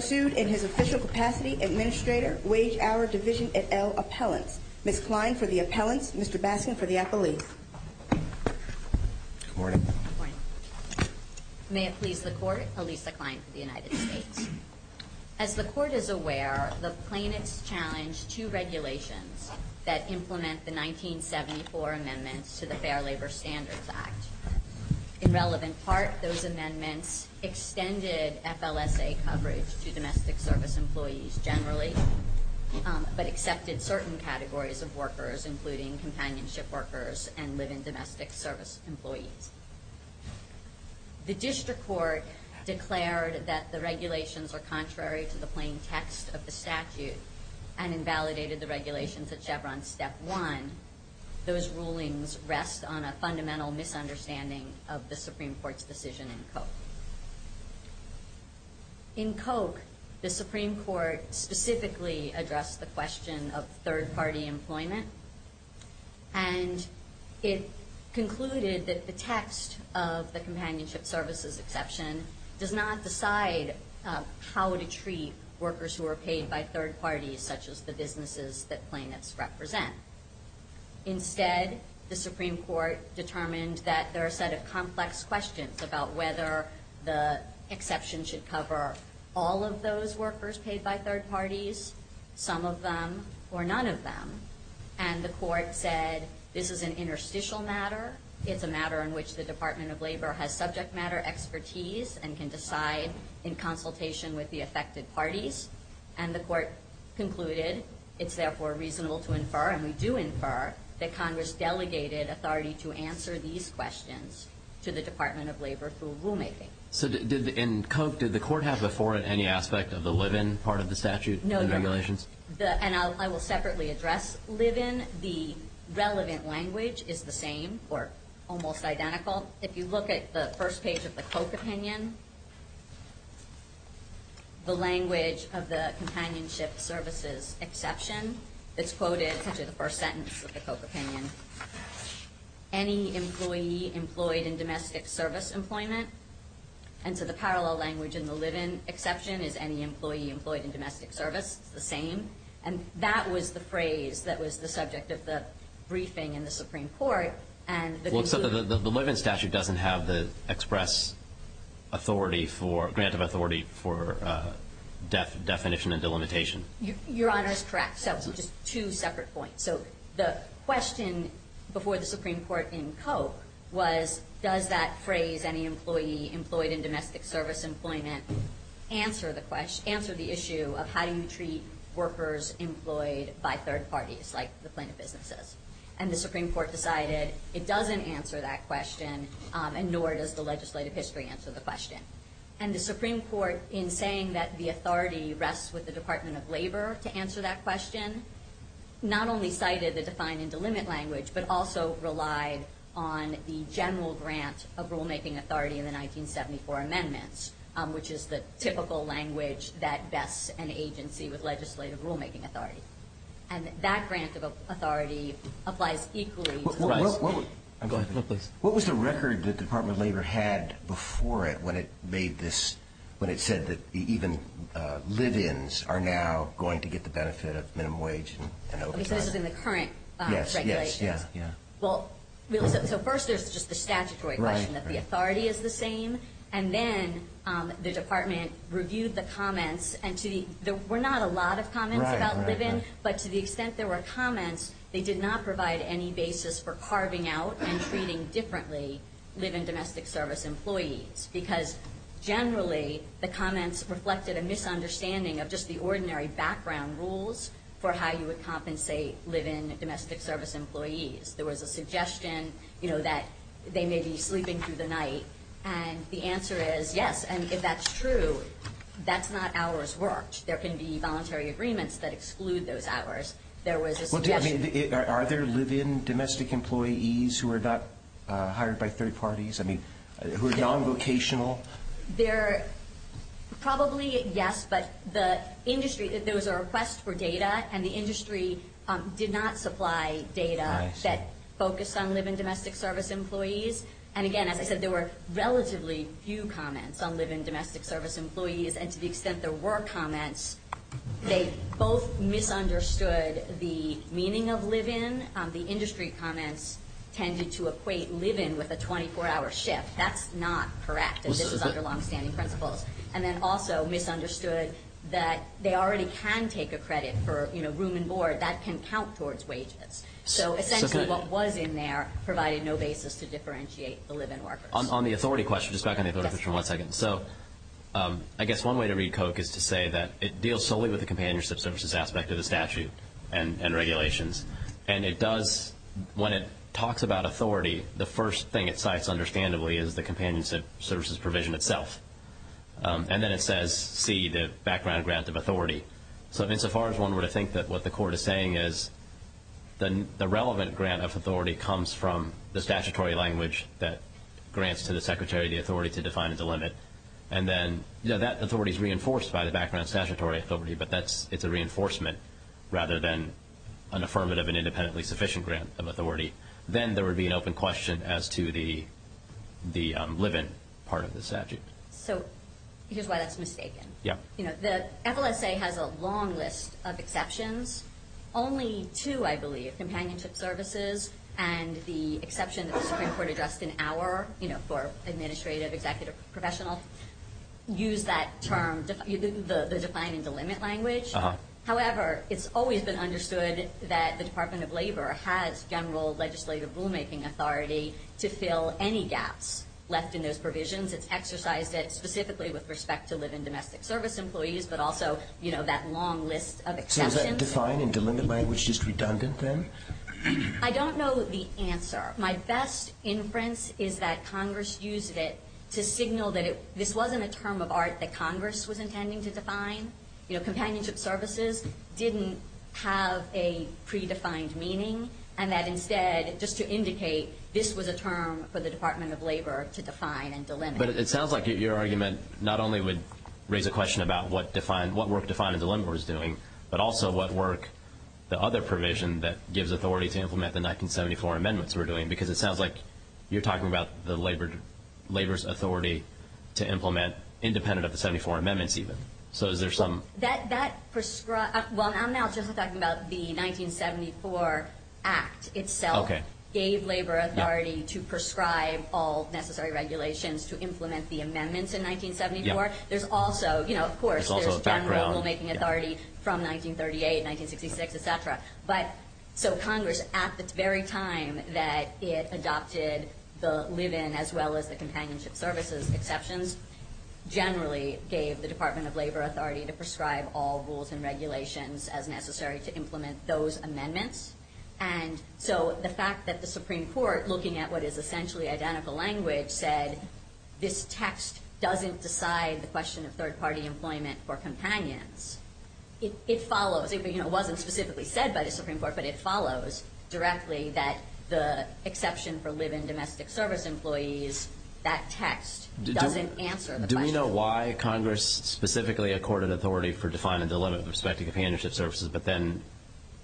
sued in his official capacity administrator wage hour division et al. appellants. Ms. Klein for the appellants, Mr. Baskin for the appellees. Good morning. Good morning. May it please the court, Elisa Klein for the United States. As the court is aware, the plaintiff's challenge to regulations that implement the 1974 amendments to the Fair Labor Standards Act. In relevant part, those amendments extended FLSA coverage to domestic service employees generally, but accepted certain categories of workers, including companionship workers and live-in domestic service employees. The district court declared that the regulations are contrary to the plain text of the statute and invalidated the regulations at Chevron step one. Those rulings rest on a fundamental misunderstanding of the Supreme Court's decision in Koch. In Koch, the Supreme Court specifically addressed the question of third-party employment, and it concluded that the text of the companionship services exception does not decide how to treat workers who are paid by third parties, such as the businesses that plaintiffs represent. Instead, the Supreme Court determined that there are a set of complex questions about whether the exception should cover all of those workers paid by third parties, some of them, or none of them. And the court said this is an interstitial matter. It's a matter in which the Department of Labor has subject matter expertise and can decide in consultation with the affected parties. And the court concluded, it's therefore reasonable to infer, and we do infer, that Congress delegated authority to answer these questions to the Department of Labor through rulemaking. So, in Koch, did the court have before it any aspect of the live-in part of the statute and regulations? And I will separately address live-in. The relevant language is the same, or almost identical. If you look at the first page of the Koch opinion, the language of the companionship services exception, it's quoted in the first sentence of the Koch opinion, any employee employed in domestic service employment. And so the parallel language in the live-in exception is any employee employed in domestic service. It's the same. And that was the phrase that was the subject of the briefing in the Supreme Court. So the live-in statute doesn't have the grant of authority for definition and delimitation? Your Honor is correct. So just two separate points. So the question before the Supreme Court in Koch was, does that phrase, any employee employed in domestic service employment, answer the issue of how do you treat workers employed by third parties, like the plaintiff businesses? And the Supreme Court decided it doesn't answer that question, and nor does the legislative history answer the question. And the Supreme Court, in saying that the authority rests with the Department of Labor to answer that question, not only cited the define and delimit language, but also relied on the general grant of rulemaking authority in the 1974 amendments, which is the typical language that bests an agency with legislative rulemaking authority. And that grant of authority applies equally to the rest. What was the record that the Department of Labor had before it when it made this, when it said that even live-ins are now going to get the benefit of minimum wage and overtime? Okay, so this is in the current regulations. Yes, yes, yeah, yeah. Well, so first there's just the statutory question that the authority is the same. And then the Department reviewed the comments, and there were not a lot of comments about live-in. But to the extent there were comments, they did not provide any basis for carving out and treating differently live-in domestic service employees. Because generally the comments reflected a misunderstanding of just the ordinary background rules for how you would compensate live-in domestic service employees. There was a suggestion, you know, that they may be sleeping through the night. And the answer is yes. And if that's true, that's not hours worked. There can be voluntary agreements that exclude those hours. Well, I mean, are there live-in domestic employees who are not hired by third parties? I mean, who are non-vocational? They're probably yes, but the industry, those are requests for data, and the industry did not supply data that focused on live-in domestic service employees. And, again, as I said, there were relatively few comments on live-in domestic service employees. And to the extent there were comments, they both misunderstood the meaning of live-in. The industry comments tended to equate live-in with a 24-hour shift. That's not correct, and this is under longstanding principles. And then also misunderstood that they already can take a credit for, you know, room and board. That can count towards wages. So essentially what was in there provided no basis to differentiate the live-in workers. On the authority question, just back on the authority question one second. So I guess one way to read Koch is to say that it deals solely with the companionship services aspect of the statute and regulations. And it does, when it talks about authority, the first thing it cites understandably is the companionship services provision itself. And then it says C, the background grant of authority. So insofar as one were to think that what the court is saying is the relevant grant of authority comes from the statutory language that grants to the secretary the authority to define and delimit. And then, you know, that authority is reinforced by the background statutory authority, but it's a reinforcement rather than an affirmative and independently sufficient grant of authority. Then there would be an open question as to the live-in part of the statute. So here's why that's mistaken. Yeah. You know, the FLSA has a long list of exceptions. Only two, I believe, companionship services and the exception that the Supreme Court addressed in our, you know, for administrative, executive, professional, use that term, the define and delimit language. However, it's always been understood that the Department of Labor has general legislative rulemaking authority to fill any gaps left in those provisions. It's exercised it specifically with respect to live-in domestic service employees, but also, you know, that long list of exceptions. So is that define and delimit language just redundant then? I don't know the answer. My best inference is that Congress used it to signal that this wasn't a term of art that Congress was intending to define. You know, companionship services didn't have a predefined meaning, and that instead just to indicate this was a term for the Department of Labor to define and delimit. But it sounds like your argument not only would raise a question about what work define and delimit was doing, but also what work the other provision that gives authority to implement the 1974 amendments were doing, because it sounds like you're talking about the Labor's authority to implement independent of the 74 amendments even. So is there some – Well, I'm not just talking about the 1974 Act itself gave Labor authority to prescribe all necessary regulations to implement the amendments in 1974. There's also, you know, of course, there's general rulemaking authority from 1938, 1966, et cetera. But so Congress at the very time that it adopted the live-in as well as the companionship services exceptions generally gave the Department of Labor authority to prescribe all rules and regulations as necessary to implement those amendments. And so the fact that the Supreme Court, looking at what is essentially identical language, said this text doesn't decide the question of third-party employment for companions, it follows – it wasn't specifically said by the Supreme Court, but it follows directly that the exception for live-in domestic service employees, that text doesn't answer the question. Do we know why Congress specifically accorded authority for define and delimit with respect to companionship services, but then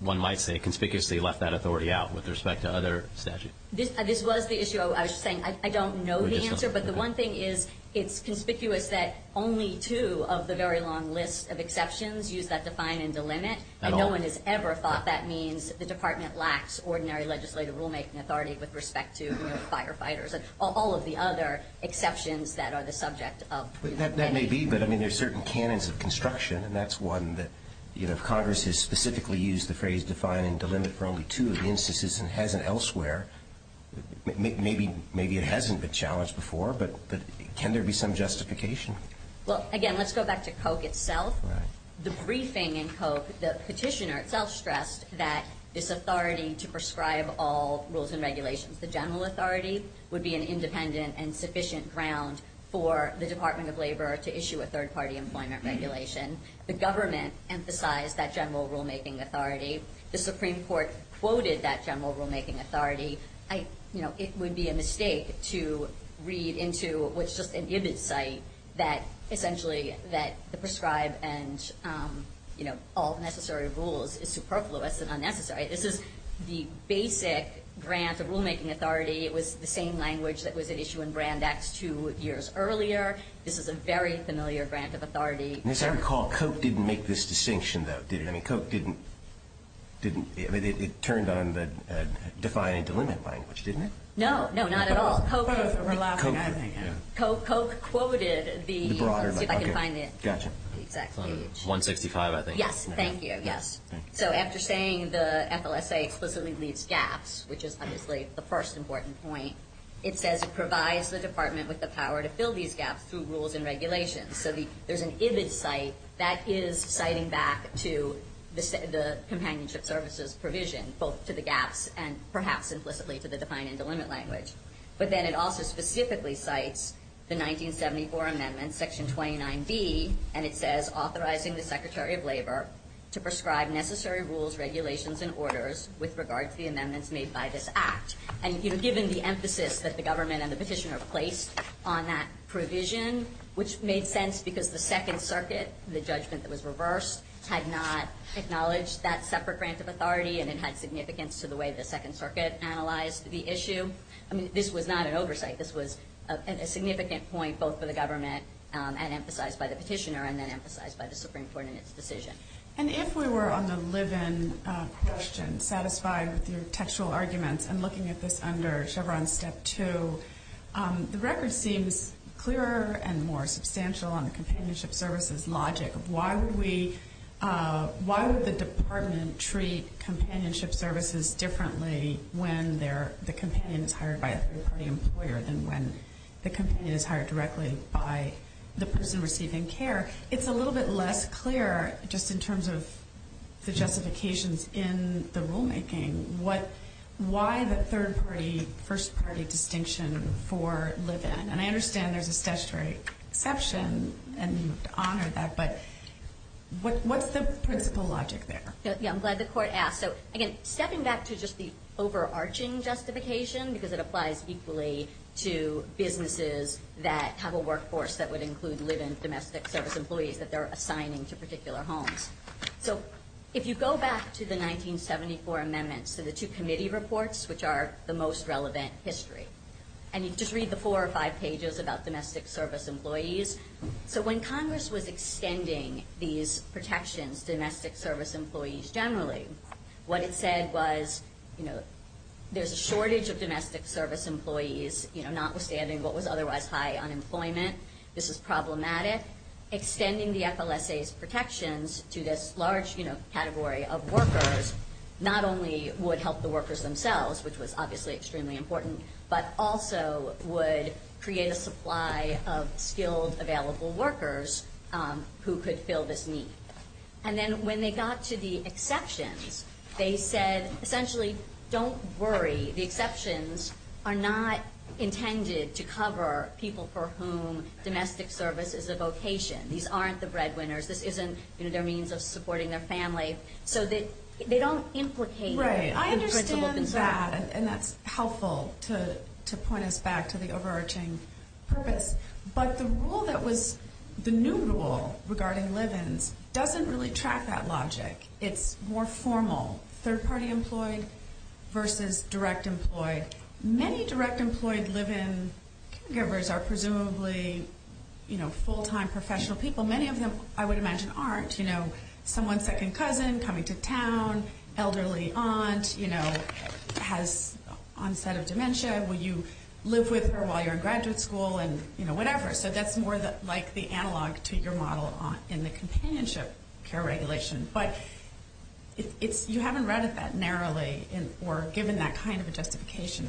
one might say conspicuously left that authority out with respect to other statutes? This was the issue. I was just saying I don't know the answer. But the one thing is it's conspicuous that only two of the very long list of exceptions use that define and delimit, and no one has ever thought that means the Department lacks ordinary legislative rulemaking authority with respect to, you know, all of the other exceptions that are the subject of preliminary. That may be, but, I mean, there are certain canons of construction, and that's one that, you know, if Congress has specifically used the phrase define and delimit for only two of the instances and hasn't elsewhere, maybe it hasn't been challenged before, but can there be some justification? Well, again, let's go back to Koch itself. The briefing in Koch, the petitioner itself stressed that this authority to prescribe all rules and regulations, the general authority, would be an independent and sufficient ground for the Department of Labor to issue a third-party employment regulation. The government emphasized that general rulemaking authority. The Supreme Court quoted that general rulemaking authority. You know, it would be a mistake to read into what's just an Ibbitt site that essentially that the prescribed and, you know, all necessary rules is superfluous and unnecessary. This is the basic grant of rulemaking authority. It was the same language that was at issue in Brand X two years earlier. This is a very familiar grant of authority. As I recall, Koch didn't make this distinction, though, did he? I mean, Koch didn't. I mean, it turned on the define and delimit language, didn't it? No, no, not at all. Koch quoted the broader, let's see if I can find the exact page. 165, I think. Yes, thank you, yes. So after saying the FLSA explicitly leaves gaps, which is obviously the first important point, it says it provides the department with the power to fill these gaps through rules and regulations. So there's an Ibbitt site that is citing back to the companionship services provision, both to the gaps and perhaps implicitly to the define and delimit language. But then it also specifically cites the 1974 amendment, Section 29B, and it says authorizing the Secretary of Labor to prescribe necessary rules, regulations, and orders with regard to the amendments made by this act. And given the emphasis that the government and the petitioner placed on that provision, which made sense because the Second Circuit, the judgment that was reversed, had not acknowledged that separate grant of authority and it had significance to the way the Second Circuit analyzed the issue. I mean, this was not an oversight. This was a significant point both for the government and emphasized by the petitioner and then emphasized by the Supreme Court in its decision. And if we were on the live-in question, satisfied with your textual arguments, and looking at this under Chevron Step 2, the record seems clearer and more substantial on the companionship services logic. Why would the department treat companionship services differently when the companion is hired by a third-party employer than when the companion is hired directly by the person receiving care? It's a little bit less clear, just in terms of the justifications in the rulemaking, why the third-party, first-party distinction for live-in. And I understand there's a statutory exception and you have to honor that, but what's the principle logic there? Yeah, I'm glad the Court asked. So, again, stepping back to just the overarching justification, because it applies equally to businesses that have a workforce that would include live-in domestic service employees that they're assigning to particular homes. So if you go back to the 1974 amendments to the two committee reports, which are the most relevant history, and you just read the four or five pages about domestic service employees. So when Congress was extending these protections to domestic service employees generally, what it said was there's a shortage of domestic service employees, notwithstanding what was otherwise high unemployment. This is problematic. Extending the FLSA's protections to this large category of workers not only would help the workers themselves, which was obviously extremely important, but also would create a supply of skilled, available workers who could fill this need. And then when they got to the exceptions, they said, essentially, don't worry. The exceptions are not intended to cover people for whom domestic service is a vocation. These aren't the breadwinners. This isn't their means of supporting their family. So they don't implicate them. Okay, I understand that, and that's helpful to point us back to the overarching purpose. But the rule that was the new rule regarding live-ins doesn't really track that logic. It's more formal, third-party employed versus direct employed. Many direct employed live-in caregivers are presumably full-time professional people. Many of them, I would imagine, aren't. You know, someone's second cousin coming to town, elderly aunt, you know, has onset of dementia. Will you live with her while you're in graduate school and, you know, whatever. So that's more like the analog to your model in the companionship care regulation. But you haven't read it that narrowly or given that kind of a justification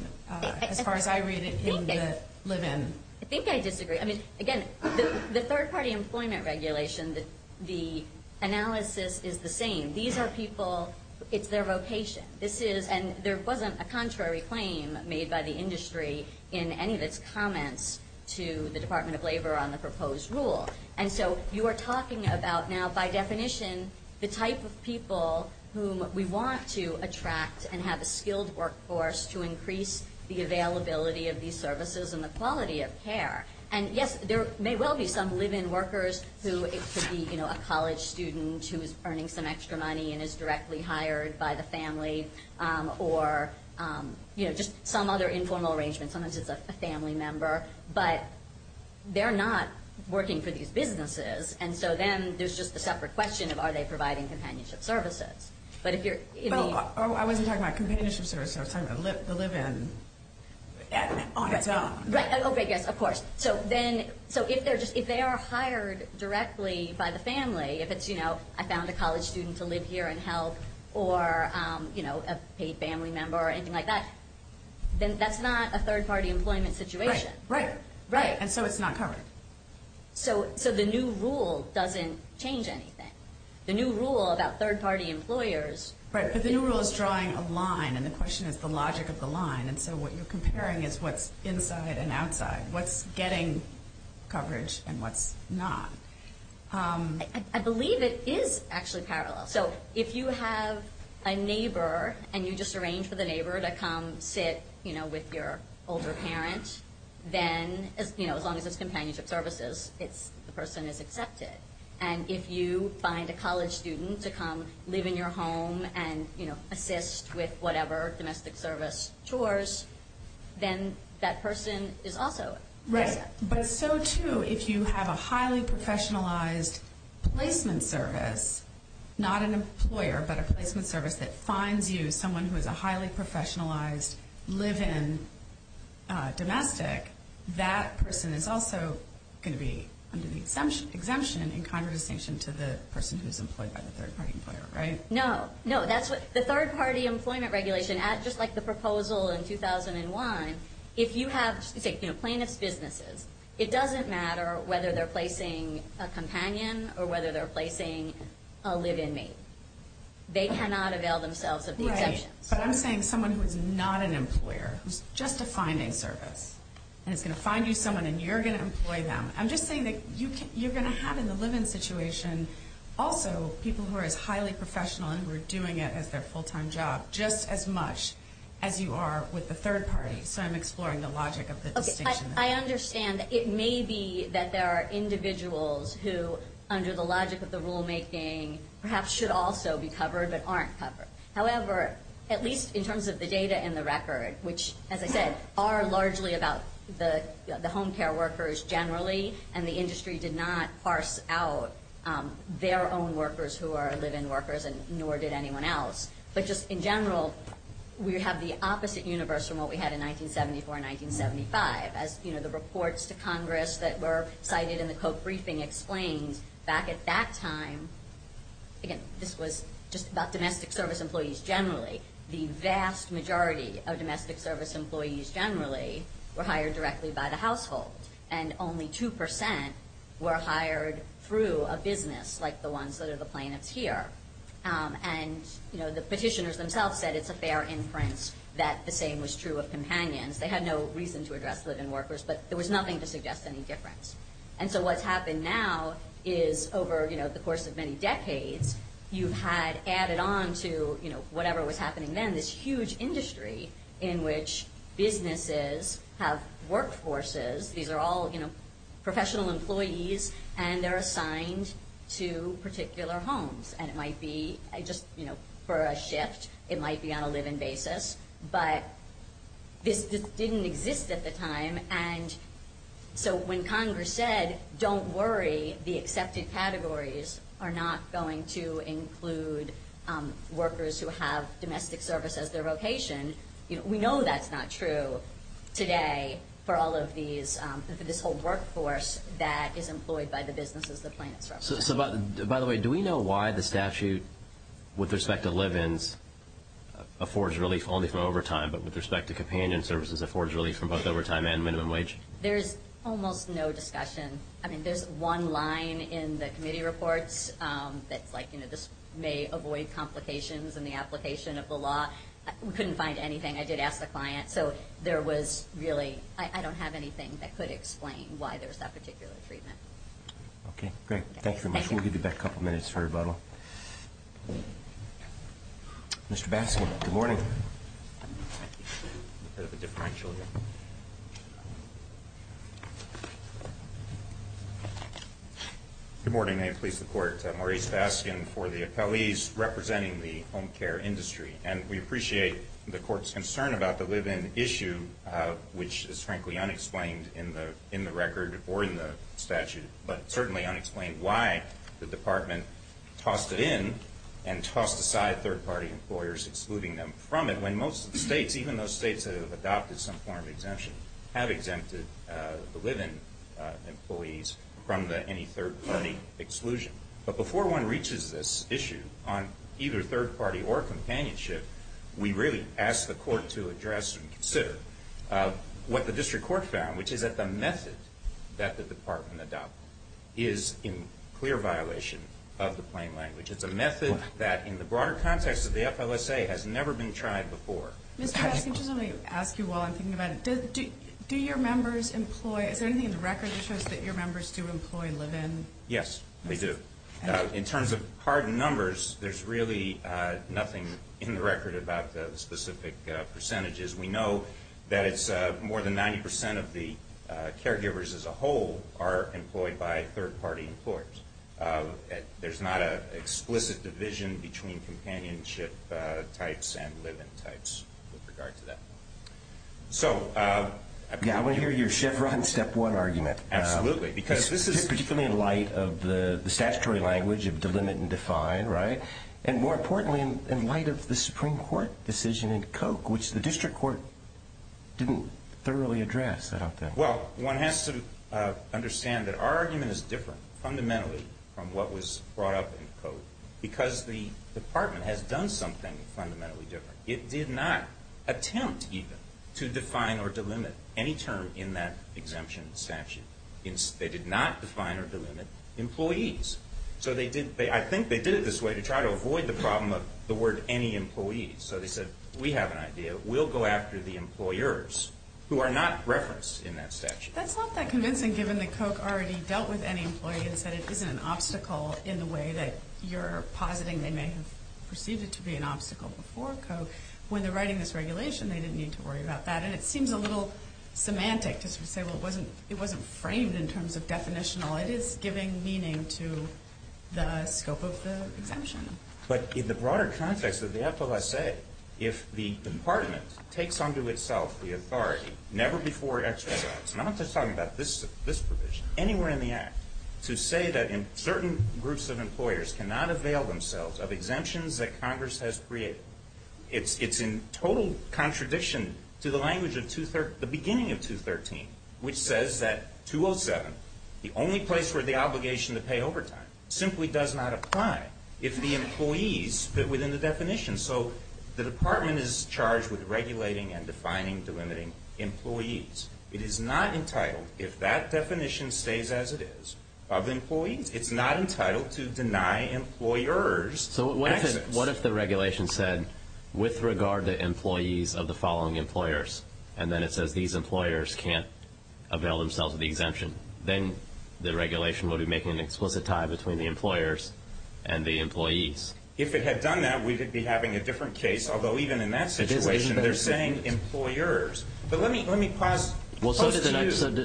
as far as I read it in the live-in. I think I disagree. I mean, again, the third-party employment regulation, the analysis is the same. These are people, it's their vocation. And there wasn't a contrary claim made by the industry in any of its comments to the Department of Labor on the proposed rule. And so you are talking about now by definition the type of people whom we want to attract and have a skilled workforce to increase the availability of these services and the quality of care. And, yes, there may well be some live-in workers who it could be, you know, a college student who is earning some extra money and is directly hired by the family or, you know, just some other informal arrangement. Sometimes it's a family member. But they're not working for these businesses. And so then there's just the separate question of are they providing companionship services. Oh, I wasn't talking about companionship services. I was talking about the live-in on its own. Right. Okay, yes, of course. So if they are hired directly by the family, if it's, you know, I found a college student to live here and help or, you know, a paid family member or anything like that, then that's not a third-party employment situation. Right. Right. And so it's not covered. So the new rule doesn't change anything. The new rule about third-party employers. Right, but the new rule is drawing a line, and the question is the logic of the line. And so what you're comparing is what's inside and outside, what's getting coverage and what's not. I believe it is actually parallel. So if you have a neighbor and you just arrange for the neighbor to come sit, you know, with your older parent, then, you know, as long as it's companionship services, the person is accepted. And if you find a college student to come live in your home and, you know, assist with whatever domestic service chores, then that person is also accepted. Right, but so, too, if you have a highly professionalized placement service, not an employer, but a placement service that finds you someone who is a highly professionalized live-in domestic, that person is also going to be under the exemption in contradistinction to the person who is employed by the third-party employer, right? No. No, that's what the third-party employment regulation, just like the proposal in 2001, if you have, say, you know, plaintiff's businesses, it doesn't matter whether they're placing a companion or whether they're placing a live-in mate. They cannot avail themselves of the exemptions. But I'm saying someone who is not an employer, who's just a finding service, and is going to find you someone and you're going to employ them. I'm just saying that you're going to have in the live-in situation also people who are as highly professional and who are doing it as their full-time job just as much as you are with the third party. So I'm exploring the logic of the distinction. I understand that it may be that there are individuals who, under the logic of the rulemaking, perhaps should also be covered but aren't covered. However, at least in terms of the data and the record, which, as I said, are largely about the home care workers generally and the industry did not parse out their own workers who are live-in workers and nor did anyone else. But just in general, we have the opposite universe from what we had in 1974 and 1975. As, you know, the reports to Congress that were cited in the Koch briefing explained back at that time, again, this was just about domestic service employees generally. The vast majority of domestic service employees generally were hired directly by the household and only 2% were hired through a business like the ones that are the plaintiffs here. And, you know, the petitioners themselves said it's a fair inference that the same was true of companions. They had no reason to address live-in workers, but there was nothing to suggest any difference. And so what's happened now is over, you know, the course of many decades, you've had added on to, you know, whatever was happening then, this huge industry in which businesses have workforces. These are all, you know, professional employees, and they're assigned to particular homes. And it might be just, you know, for a shift. It might be on a live-in basis. But this didn't exist at the time. And so when Congress said, don't worry, the accepted categories are not going to include workers who have domestic service as their vocation, you know, we know that's not true today for all of these, for this whole workforce that is employed by the businesses the plaintiffs represent. So, by the way, do we know why the statute with respect to live-ins affords relief only from overtime, but with respect to companion services affords relief from both overtime and minimum wage? There's almost no discussion. I mean, there's one line in the committee reports that's like, you know, this may avoid complications in the application of the law. We couldn't find anything. I did ask the client. So there was really – I don't have anything that could explain why there's that particular treatment. Okay, great. Thank you very much. We'll give you back a couple minutes for rebuttal. Mr. Baskin, good morning. Good morning. May it please the Court. Maurice Baskin for the appellees representing the home care industry. And we appreciate the Court's concern about the live-in issue, which is frankly unexplained in the record or in the statute, but certainly unexplained why the Department tossed it in and tossed aside third-party employers excluding them from it when most of the states, even those states that have adopted some form of exemption, have exempted the live-in employees from any third-party exclusion. But before one reaches this issue on either third-party or companionship, we really ask the Court to address and consider what the district court found, which is that the method that the Department adopted is in clear violation of the plain language. It's a method that in the broader context of the FLSA has never been tried before. Mr. Baskin, just let me ask you while I'm thinking about it. Do your members employ – is there anything in the record that shows that your members do employ live-in? Yes, they do. In terms of hard numbers, there's really nothing in the record about the specific percentages. We know that it's more than 90 percent of the caregivers as a whole are employed by third-party employers. There's not an explicit division between companionship types and live-in types with regard to that. I want to hear your Chevron step one argument. Absolutely. Because this is particularly in light of the statutory language of delimit and define, right? And more importantly, in light of the Supreme Court decision in Koch, which the district court didn't thoroughly address, I don't think. Well, one has to understand that our argument is different fundamentally from what was brought up in Koch because the Department has done something fundamentally different. It did not attempt even to define or delimit any term in that exemption statute. They did not define or delimit employees. So I think they did it this way to try to avoid the problem of the word any employee. So they said, we have an idea. We'll go after the employers who are not referenced in that statute. That's not that convincing given that Koch already dealt with any employee and said it isn't an obstacle in the way that you're positing they may have perceived it to be an obstacle before Koch. When they're writing this regulation, they didn't need to worry about that. And it seems a little semantic to say, well, it wasn't framed in terms of definitional. It is giving meaning to the scope of the exemption. But in the broader context of the FLSA, if the Department takes onto itself the authority never before exercised, not just talking about this provision, anywhere in the Act, to say that certain groups of employers cannot avail themselves of exemptions that Congress has created, it's in total contradiction to the language of the beginning of 213, which says that 207, the only place where the obligation to pay overtime, simply does not apply if the employees fit within the definition. So the Department is charged with regulating and defining, delimiting employees. It is not entitled, if that definition stays as it is, of employees. It's not entitled to deny employers exits. So what if the regulation said, with regard to employees of the following employers, and then it says these employers can't avail themselves of the exemption, then the regulation would be making an explicit tie between the employers and the employees. If it had done that, we would be having a different case. Although, even in that situation, they're saying employers. But let me pause to you. Well, so did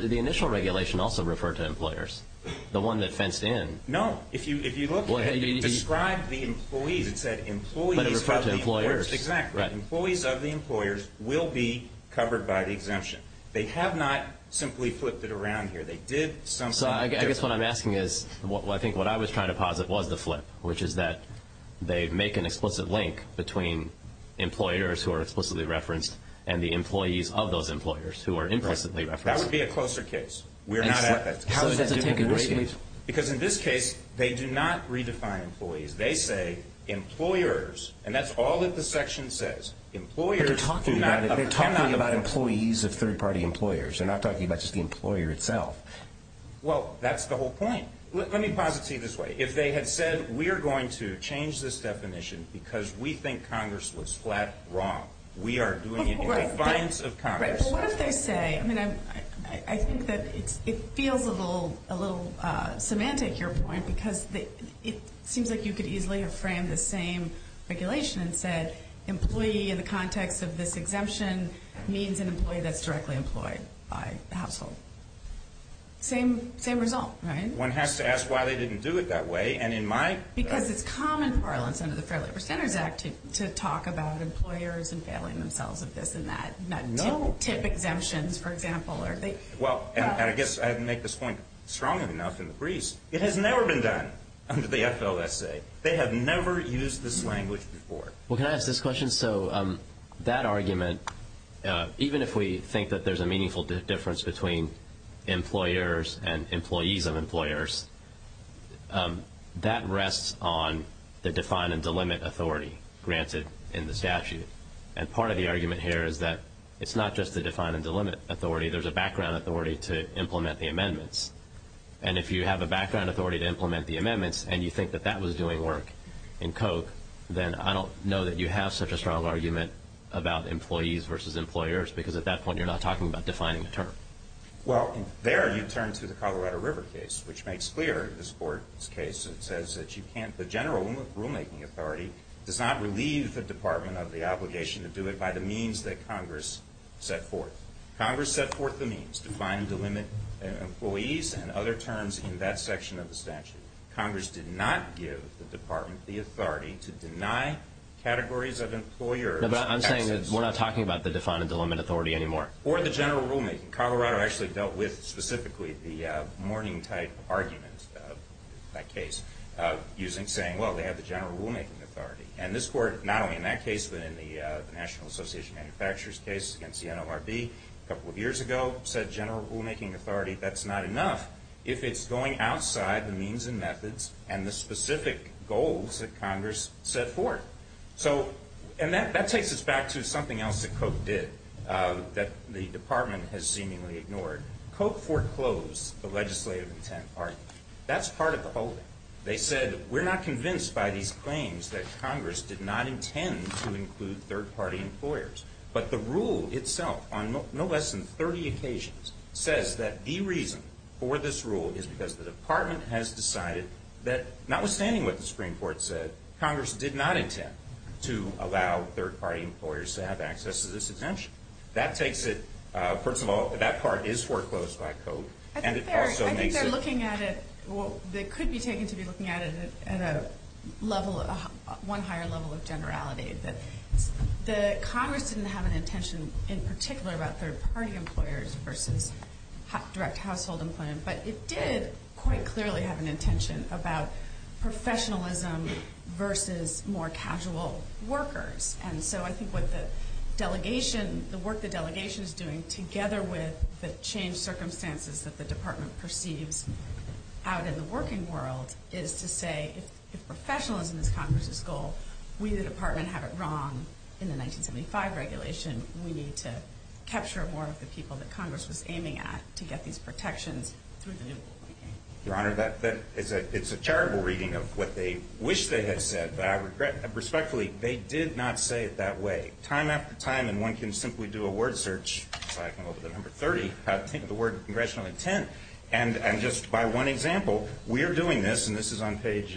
the initial regulation also refer to employers, the one that fenced in? No. If you look at it, it described the employees. It said employees of the employers. That's exactly right. Employees of the employers will be covered by the exemption. They have not simply flipped it around here. They did something different. So I guess what I'm asking is, I think what I was trying to posit was the flip, which is that they make an explicit link between employers who are explicitly referenced and the employees of those employers who are implicitly referenced. That would be a closer case. We're not at that. So does that take into account? Because in this case, they do not redefine employees. They say employers, and that's all that the section says. They're talking about employees of third-party employers. They're not talking about just the employer itself. Well, that's the whole point. Let me posit to you this way. If they had said we are going to change this definition because we think Congress was flat wrong, we are doing it in defiance of Congress. Well, what if they say, I mean, I think that it feels a little semantic, your point, because it seems like you could easily have framed the same regulation and said employee in the context of this exemption means an employee that's directly employed by the household. Same result, right? One has to ask why they didn't do it that way. Because it's common parlance under the Fair Labor Standards Act to talk about employers and failing themselves of this and that, not tip exemptions, for example. Well, and I guess I didn't make this point strong enough in the breeze. It has never been done under the FLSA. They have never used this language before. Well, can I ask this question? So that argument, even if we think that there's a meaningful difference between employers and employees of employers, that rests on the define and delimit authority granted in the statute. And part of the argument here is that it's not just the define and delimit authority. There's a background authority to implement the amendments. And if you have a background authority to implement the amendments, and you think that that was doing work in Koch, then I don't know that you have such a strong argument about employees versus employers, because at that point you're not talking about defining a term. Well, there you turn to the Colorado River case, which makes clear this Court's case. It says that you can't, the general rulemaking authority does not relieve the Department of the obligation to do it by the means that Congress set forth. Congress set forth the means, define and delimit employees and other terms in that section of the statute. Congress did not give the Department the authority to deny categories of employers access. No, but I'm saying that we're not talking about the define and delimit authority anymore. Or the general rulemaking. Colorado actually dealt with, specifically, the morning-type argument of that case, saying, well, they have the general rulemaking authority. And this Court, not only in that case, but in the National Association of Manufacturers case against the NLRB, a couple of years ago, said general rulemaking authority, that's not enough, if it's going outside the means and methods and the specific goals that Congress set forth. So, and that takes us back to something else that Koch did that the Department has seemingly ignored. Koch foreclosed the legislative intent argument. That's part of the holding. They said, we're not convinced by these claims that Congress did not intend to include third-party employers. But the rule itself, on no less than 30 occasions, says that the reason for this rule is because the Department has decided that, notwithstanding what the Supreme Court said, Congress did not intend to allow third-party employers to have access to this exemption. That takes it, first of all, that part is foreclosed by Koch. I think they're looking at it, well, they could be taken to be looking at it at a level, one higher level of generality. But the Congress didn't have an intention in particular about third-party employers versus direct household employment. But it did quite clearly have an intention about professionalism versus more casual workers. And so I think what the delegation, the work the delegation is doing, together with the changed circumstances that the Department perceives out in the working world, is to say, if professionalism is Congress's goal, we the Department have it wrong in the 1975 regulation. We need to capture more of the people that Congress was aiming at to get these protections through the new rulemaking. Your Honor, that is a terrible reading of what they wish they had said. But I regret, respectfully, they did not say it that way. Time after time, and one can simply do a word search, so I can go to the number 30, think of the word congressionally, intent. And just by one example, we are doing this, and this is on page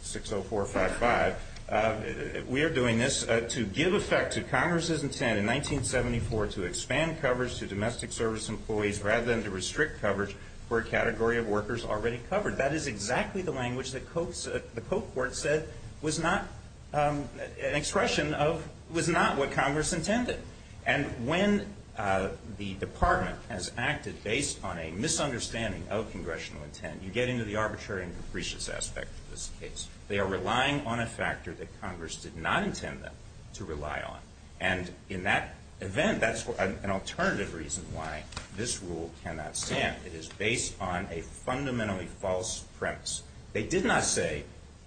60455, we are doing this to give effect to Congress's intent in 1974 to expand coverage to domestic service employees rather than to restrict coverage for a category of workers already covered. That is exactly the language that the Court said was not an expression of, was not what Congress intended. And when the Department has acted based on a misunderstanding of congressional intent, you get into the arbitrary and capricious aspect of this case. They are relying on a factor that Congress did not intend them to rely on. And in that event, that's an alternative reason why this rule cannot stand. It is based on a fundamentally false premise. They did not say,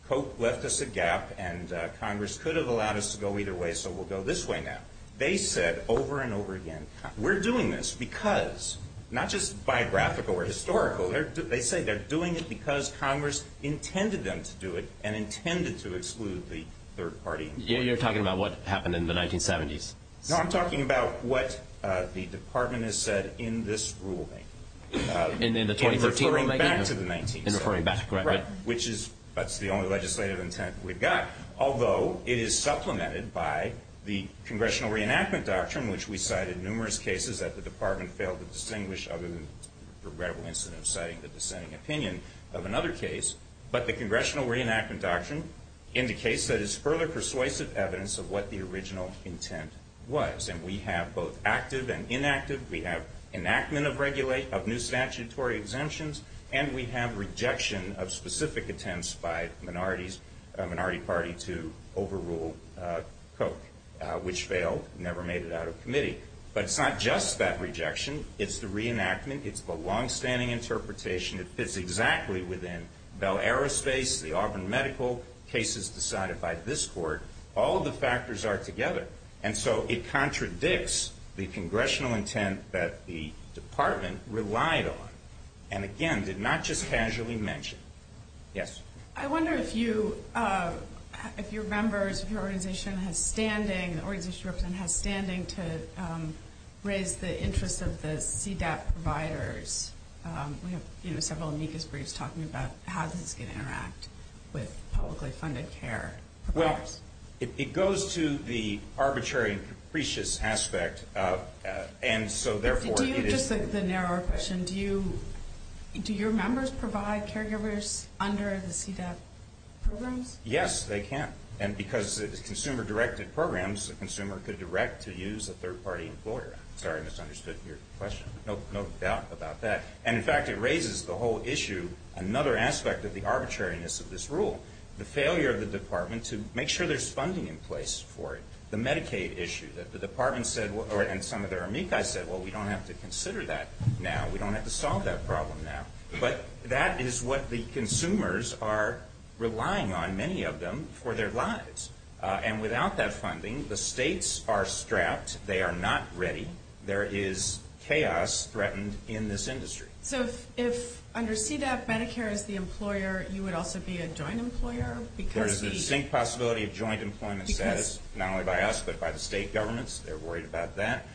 Coke left us a gap, and Congress could have allowed us to go either way, so we'll go this way now. They said over and over again, we're doing this because, not just biographical or historical, they say they're doing it because Congress intended them to do it and intended to exclude the third party. You're talking about what happened in the 1970s. No, I'm talking about what the Department has said in this rulemaking. In the 2013 rulemaking? In referring back to the 1970s. In referring back, correct. Right. Which is, that's the only legislative intent we've got, although it is supplemented by the Congressional Reenactment Doctrine, which we cited numerous cases that the Department failed to distinguish other than the regrettable incident of citing the dissenting opinion of another case. But the Congressional Reenactment Doctrine indicates that it's further persuasive evidence of what the original intent was, and we have both active and inactive. We have enactment of new statutory exemptions, and we have rejection of specific attempts by a minority party to overrule Coke, which failed, never made it out of committee. But it's not just that rejection. It's the reenactment. It's the longstanding interpretation. It fits exactly within Bell Aerospace, the Auburn Medical cases decided by this Court. All of the factors are together. And so it contradicts the Congressional intent that the Department relied on, and again, did not just casually mention. Yes? I wonder if you, if your members, if your organization has standing, has standing to raise the interest of the CDAP providers. We have, you know, several amicus briefs talking about how this can interact with publicly funded care. Well, it goes to the arbitrary and capricious aspect, and so therefore it is. Just the narrower question, do you, do your members provide caregivers under the CDAP programs? Yes, they can. And because it is consumer-directed programs, the consumer could direct to use a third-party employer. Sorry, I misunderstood your question. No doubt about that. And, in fact, it raises the whole issue, another aspect of the arbitrariness of this rule, the failure of the Department to make sure there's funding in place for it. The Medicaid issue that the Department said, and some of their amicus said, well, we don't have to consider that now. We don't have to solve that problem now. But that is what the consumers are relying on, many of them, for their lives. And without that funding, the states are strapped. They are not ready. There is chaos threatened in this industry. So if under CDAP, Medicare is the employer, you would also be a joint employer? There is a distinct possibility of joint employment status, not only by us, but by the state governments. They're worried about that.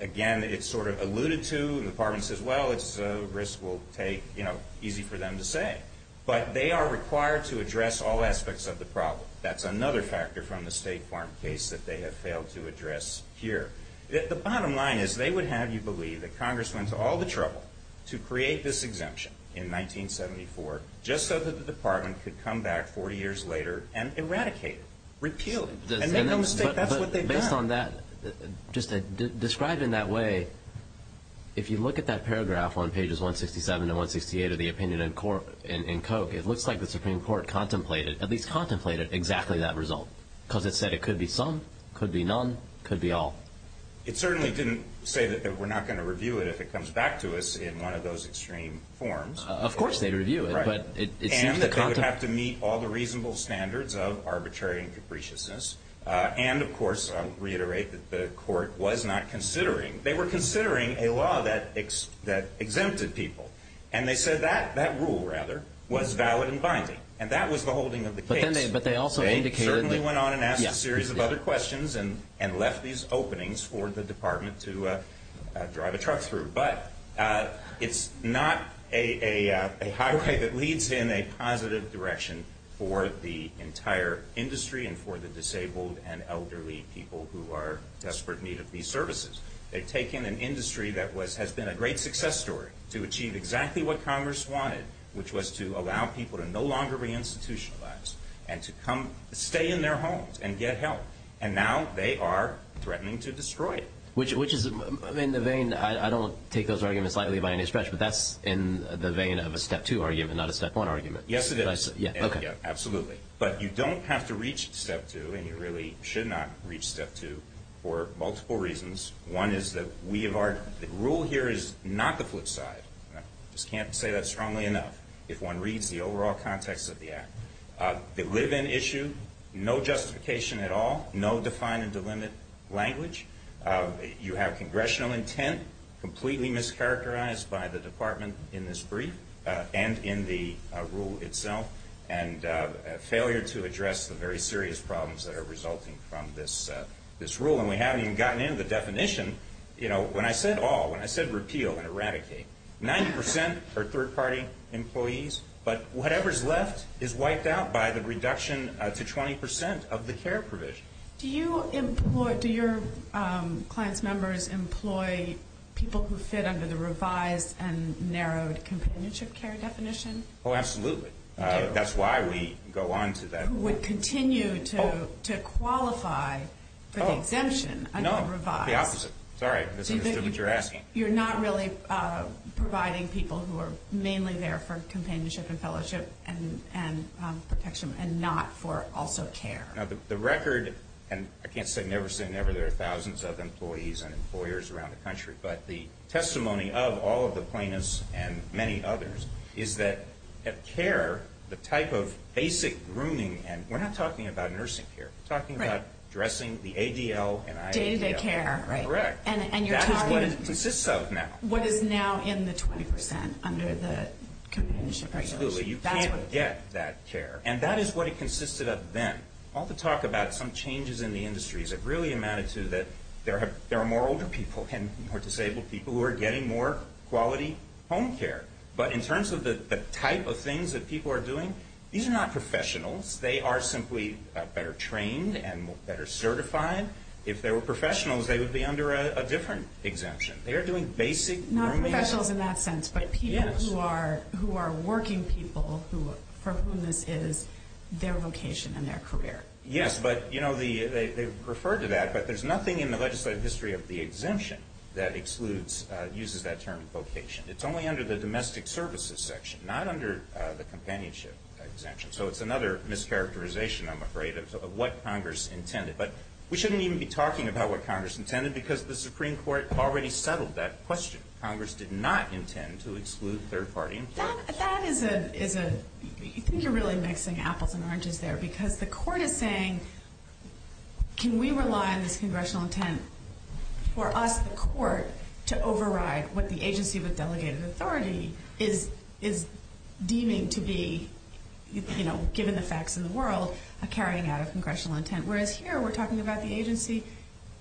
Again, it's sort of alluded to. The Department says, well, it's a risk we'll take, you know, easy for them to say. But they are required to address all aspects of the problem. That's another factor from the State Farm case that they have failed to address here. The bottom line is they would have you believe that Congress went to all the trouble to create this exemption in 1974 just so that the Department could come back 40 years later and eradicate it, repeal it. And make no mistake, that's what they've done. Based on that, just describe in that way, if you look at that paragraph on pages 167 and 168 of the opinion in Koch, it looks like the Supreme Court contemplated, at least contemplated exactly that result because it said it could be some, could be none, could be all. It certainly didn't say that we're not going to review it if it comes back to us in one of those extreme forms. Of course they'd review it. And that they would have to meet all the reasonable standards of arbitrary and capriciousness. And, of course, I'll reiterate that the court was not considering, they were considering a law that exempted people. And they said that rule, rather, was valid and binding. And that was the holding of the case. But they also indicated that. They certainly went on and asked a series of other questions and left these openings for the Department to drive a truck through. But it's not a highway that leads in a positive direction for the entire industry and for the disabled and elderly people who are in desperate need of these services. They've taken an industry that has been a great success story to achieve exactly what Congress wanted, which was to allow people to no longer re-institutionalize and to come stay in their homes and get help. And now they are threatening to destroy it. Which is in the vein, I don't take those arguments lightly by any stretch, but that's in the vein of a Step 2 argument, not a Step 1 argument. Yes, it is. Absolutely. But you don't have to reach Step 2, and you really should not reach Step 2, for multiple reasons. One is that the rule here is not the flip side. I just can't say that strongly enough if one reads the overall context of the act. They live in issue, no justification at all, no define and delimit language. You have congressional intent, completely mischaracterized by the Department in this brief and in the rule itself, and failure to address the very serious problems that are resulting from this rule. And we haven't even gotten into the definition. You know, when I said all, when I said repeal and eradicate, 90% are third-party employees, but whatever's left is wiped out by the reduction to 20% of the care provision. Do you employ, do your clients' members employ people who fit under the revised and narrowed companionship care definition? Oh, absolutely. That's why we go on to that. Who would continue to qualify for the exemption under the revised. Sorry, misunderstood what you're asking. You're not really providing people who are mainly there for companionship and fellowship and protection and not for also care. Now, the record, and I can't say never say never, there are thousands of employees and employers around the country, but the testimony of all of the plaintiffs and many others is that care, the type of basic grooming, and we're not talking about nursing care, we're talking about dressing, the ADL and IADL. Day-to-day care. Correct. And you're talking. That is what it consists of now. What is now in the 20% under the companionship and fellowship. Absolutely. You can't get that care. And that is what it consisted of then. All the talk about some changes in the industry has really amounted to that there are more older people and more disabled people who are getting more quality home care. But in terms of the type of things that people are doing, these are not professionals. They are simply better trained and better certified. If they were professionals, they would be under a different exemption. They are doing basic grooming. Not professionals in that sense, but people who are working people for whom this is their vocation and their career. Yes, but, you know, they refer to that, but there's nothing in the legislative history of the exemption that excludes, uses that term vocation. It's only under the domestic services section, not under the companionship exemption. So it's another mischaracterization, I'm afraid, of what Congress intended. But we shouldn't even be talking about what Congress intended because the Supreme Court already settled that question. Congress did not intend to exclude third-party employers. That is a, you think you're really mixing apples and oranges there, because the court is saying can we rely on this congressional intent for us, the court, to override what the agency with delegated authority is deeming to be, you know, given the facts of the world, carrying out a congressional intent. Whereas here we're talking about the agency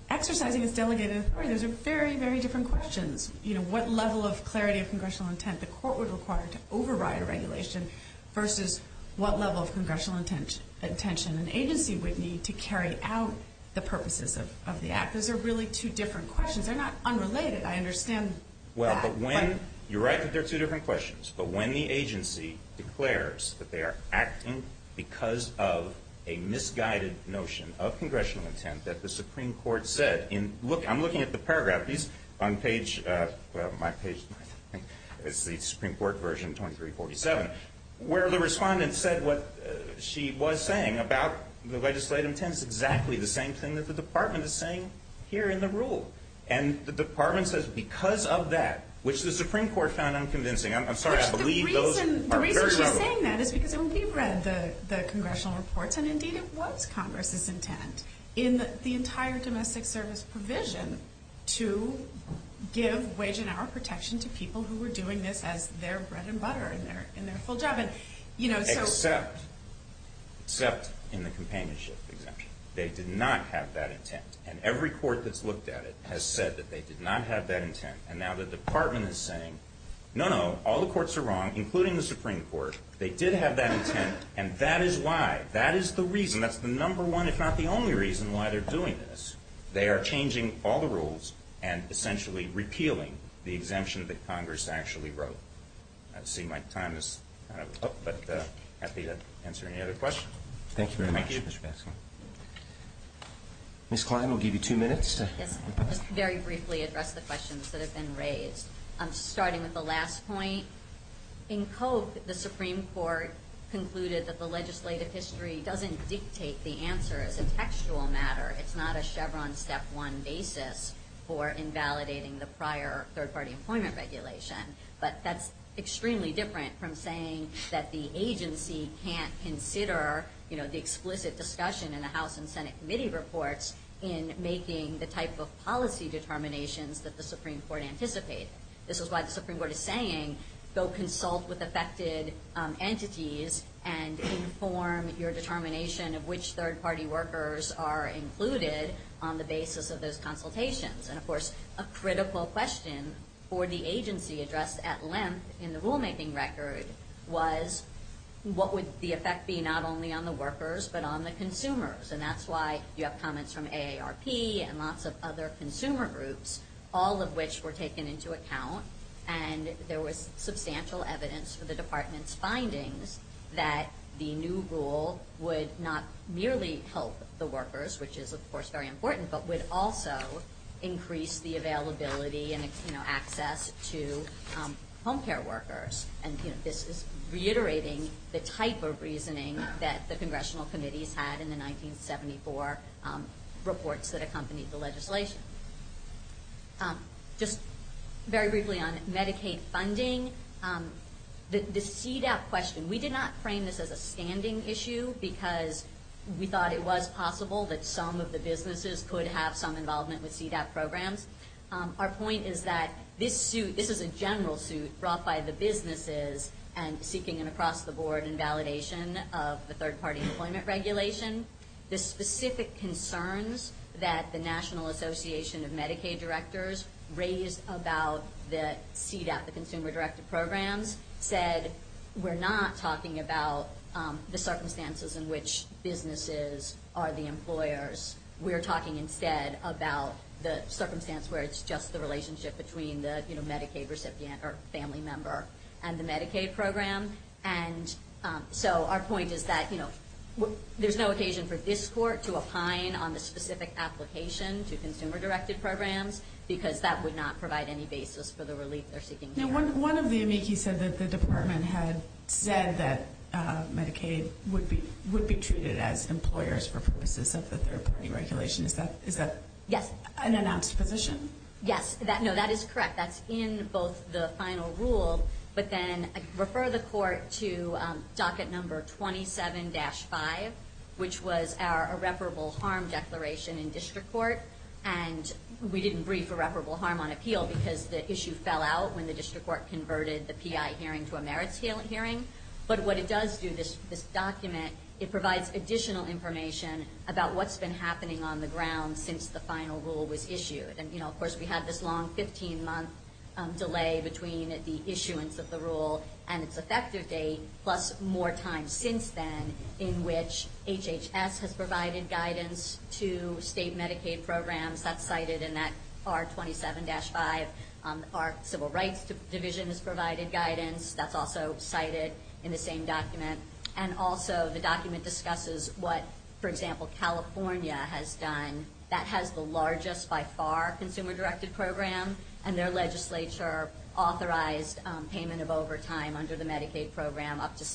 exercising its delegated authority. Those are very, very different questions. You know, what level of clarity of congressional intent the court would require to override a regulation versus what level of congressional intention an agency would need to carry out the purposes of the act. Those are really two different questions. They're not unrelated. I understand that. Well, but when, you're right that they're two different questions. But when the agency declares that they are acting because of a misguided notion of congressional intent that the Supreme Court said in, look, I'm looking at the paragraph. These, on page, well, my page, I think it's the Supreme Court version 2347, where the respondent said what she was saying about the legislative intent is exactly the same thing that the department is saying here in the rule. And the department says because of that, which the Supreme Court found unconvincing. I'm sorry, I believe those are very relevant. The reason she's saying that is because when we read the congressional reports, and indeed it was Congress's intent in the entire domestic service provision to give wage and hour protection to people who were doing this as their bread and butter in their full job. And, you know, so. Except, except in the companionship exemption. They did not have that intent. And every court that's looked at it has said that they did not have that intent. And now the department is saying, no, no, all the courts are wrong, including the Supreme Court. They did have that intent, and that is why, that is the reason, that's the number one, if not the only reason why they're doing this. They are changing all the rules and essentially repealing the exemption that Congress actually wrote. I see my time is up, but happy to answer any other questions. Thank you very much, Mr. Baskin. Ms. Klein, we'll give you two minutes. Yes. Just very briefly address the questions that have been raised. Starting with the last point. In Cope, the Supreme Court concluded that the legislative history doesn't dictate the answer as a textual matter. It's not a Chevron step one basis for invalidating the prior third-party employment regulation. But that's extremely different from saying that the agency can't consider, you know, the explicit discussion in the House and Senate committee reports in making the type of policy determinations that the Supreme Court anticipated. This is why the Supreme Court is saying, go consult with affected entities and inform your determination of which third-party workers are included on the basis of those consultations. And, of course, a critical question for the agency addressed at length in the rulemaking record was, what would the effect be not only on the workers but on the consumers? And that's why you have comments from AARP and lots of other consumer groups, all of which were taken into account. And there was substantial evidence for the department's findings that the new rule would not merely help the workers, which is, of course, very important, but would also increase the availability and, you know, access to home care workers. And, you know, this is reiterating the type of reasoning that the congressional committees had in the 1974 reports that accompanied the legislation. Just very briefly on Medicaid funding, the CDAP question, we did not frame this as a standing issue because we thought it was possible that some of the businesses could have some involvement with CDAP programs. Our point is that this suit, this is a general suit brought by the businesses and seeking an across-the-board invalidation of the third-party employment regulation. The specific concerns that the National Association of Medicaid Directors raised about the CDAP, the consumer-directed programs, said we're not talking about the circumstances in which businesses are the employers. We're talking instead about the circumstance where it's just the relationship between the Medicaid recipient or family member and the Medicaid program. And so our point is that, you know, there's no occasion for this court to opine on the specific application to consumer-directed programs because that would not provide any basis for the relief they're seeking here. Now, one of the amici said that the department had said that Medicaid would be treated as employers for purposes of the third-party regulation. Is that an announced position? Yes. No, that is correct. That's in both the final rule, but then I refer the court to docket number 27-5, which was our irreparable harm declaration in district court. And we didn't brief irreparable harm on appeal because the issue fell out when the district court converted the PI hearing to a merits hearing. But what it does do, this document, it provides additional information about what's been happening on the ground since the final rule was issued. And, you know, of course we had this long 15-month delay between the issuance of the rule and its effective date, plus more time since then in which HHS has provided guidance to state Medicaid programs. That's cited in that R27-5. Our Civil Rights Division has provided guidance. That's also cited in the same document. And also the document discusses what, for example, California has done. That has the largest by far consumer-directed program, and their legislature authorized payment of overtime under the Medicaid program up to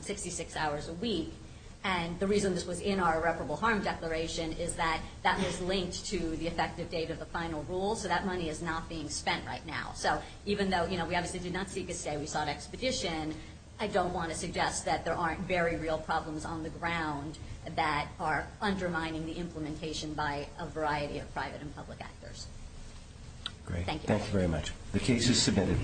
66 hours a week. And the reason this was in our irreparable harm declaration is that that was linked to the effective date of the final rule, so that money is not being spent right now. So even though, you know, we obviously did not seek a stay, we sought expedition, I don't want to suggest that there aren't very real problems on the ground that are undermining the implementation by a variety of private and public actors. Thank you. Thank you very much. The case is submitted.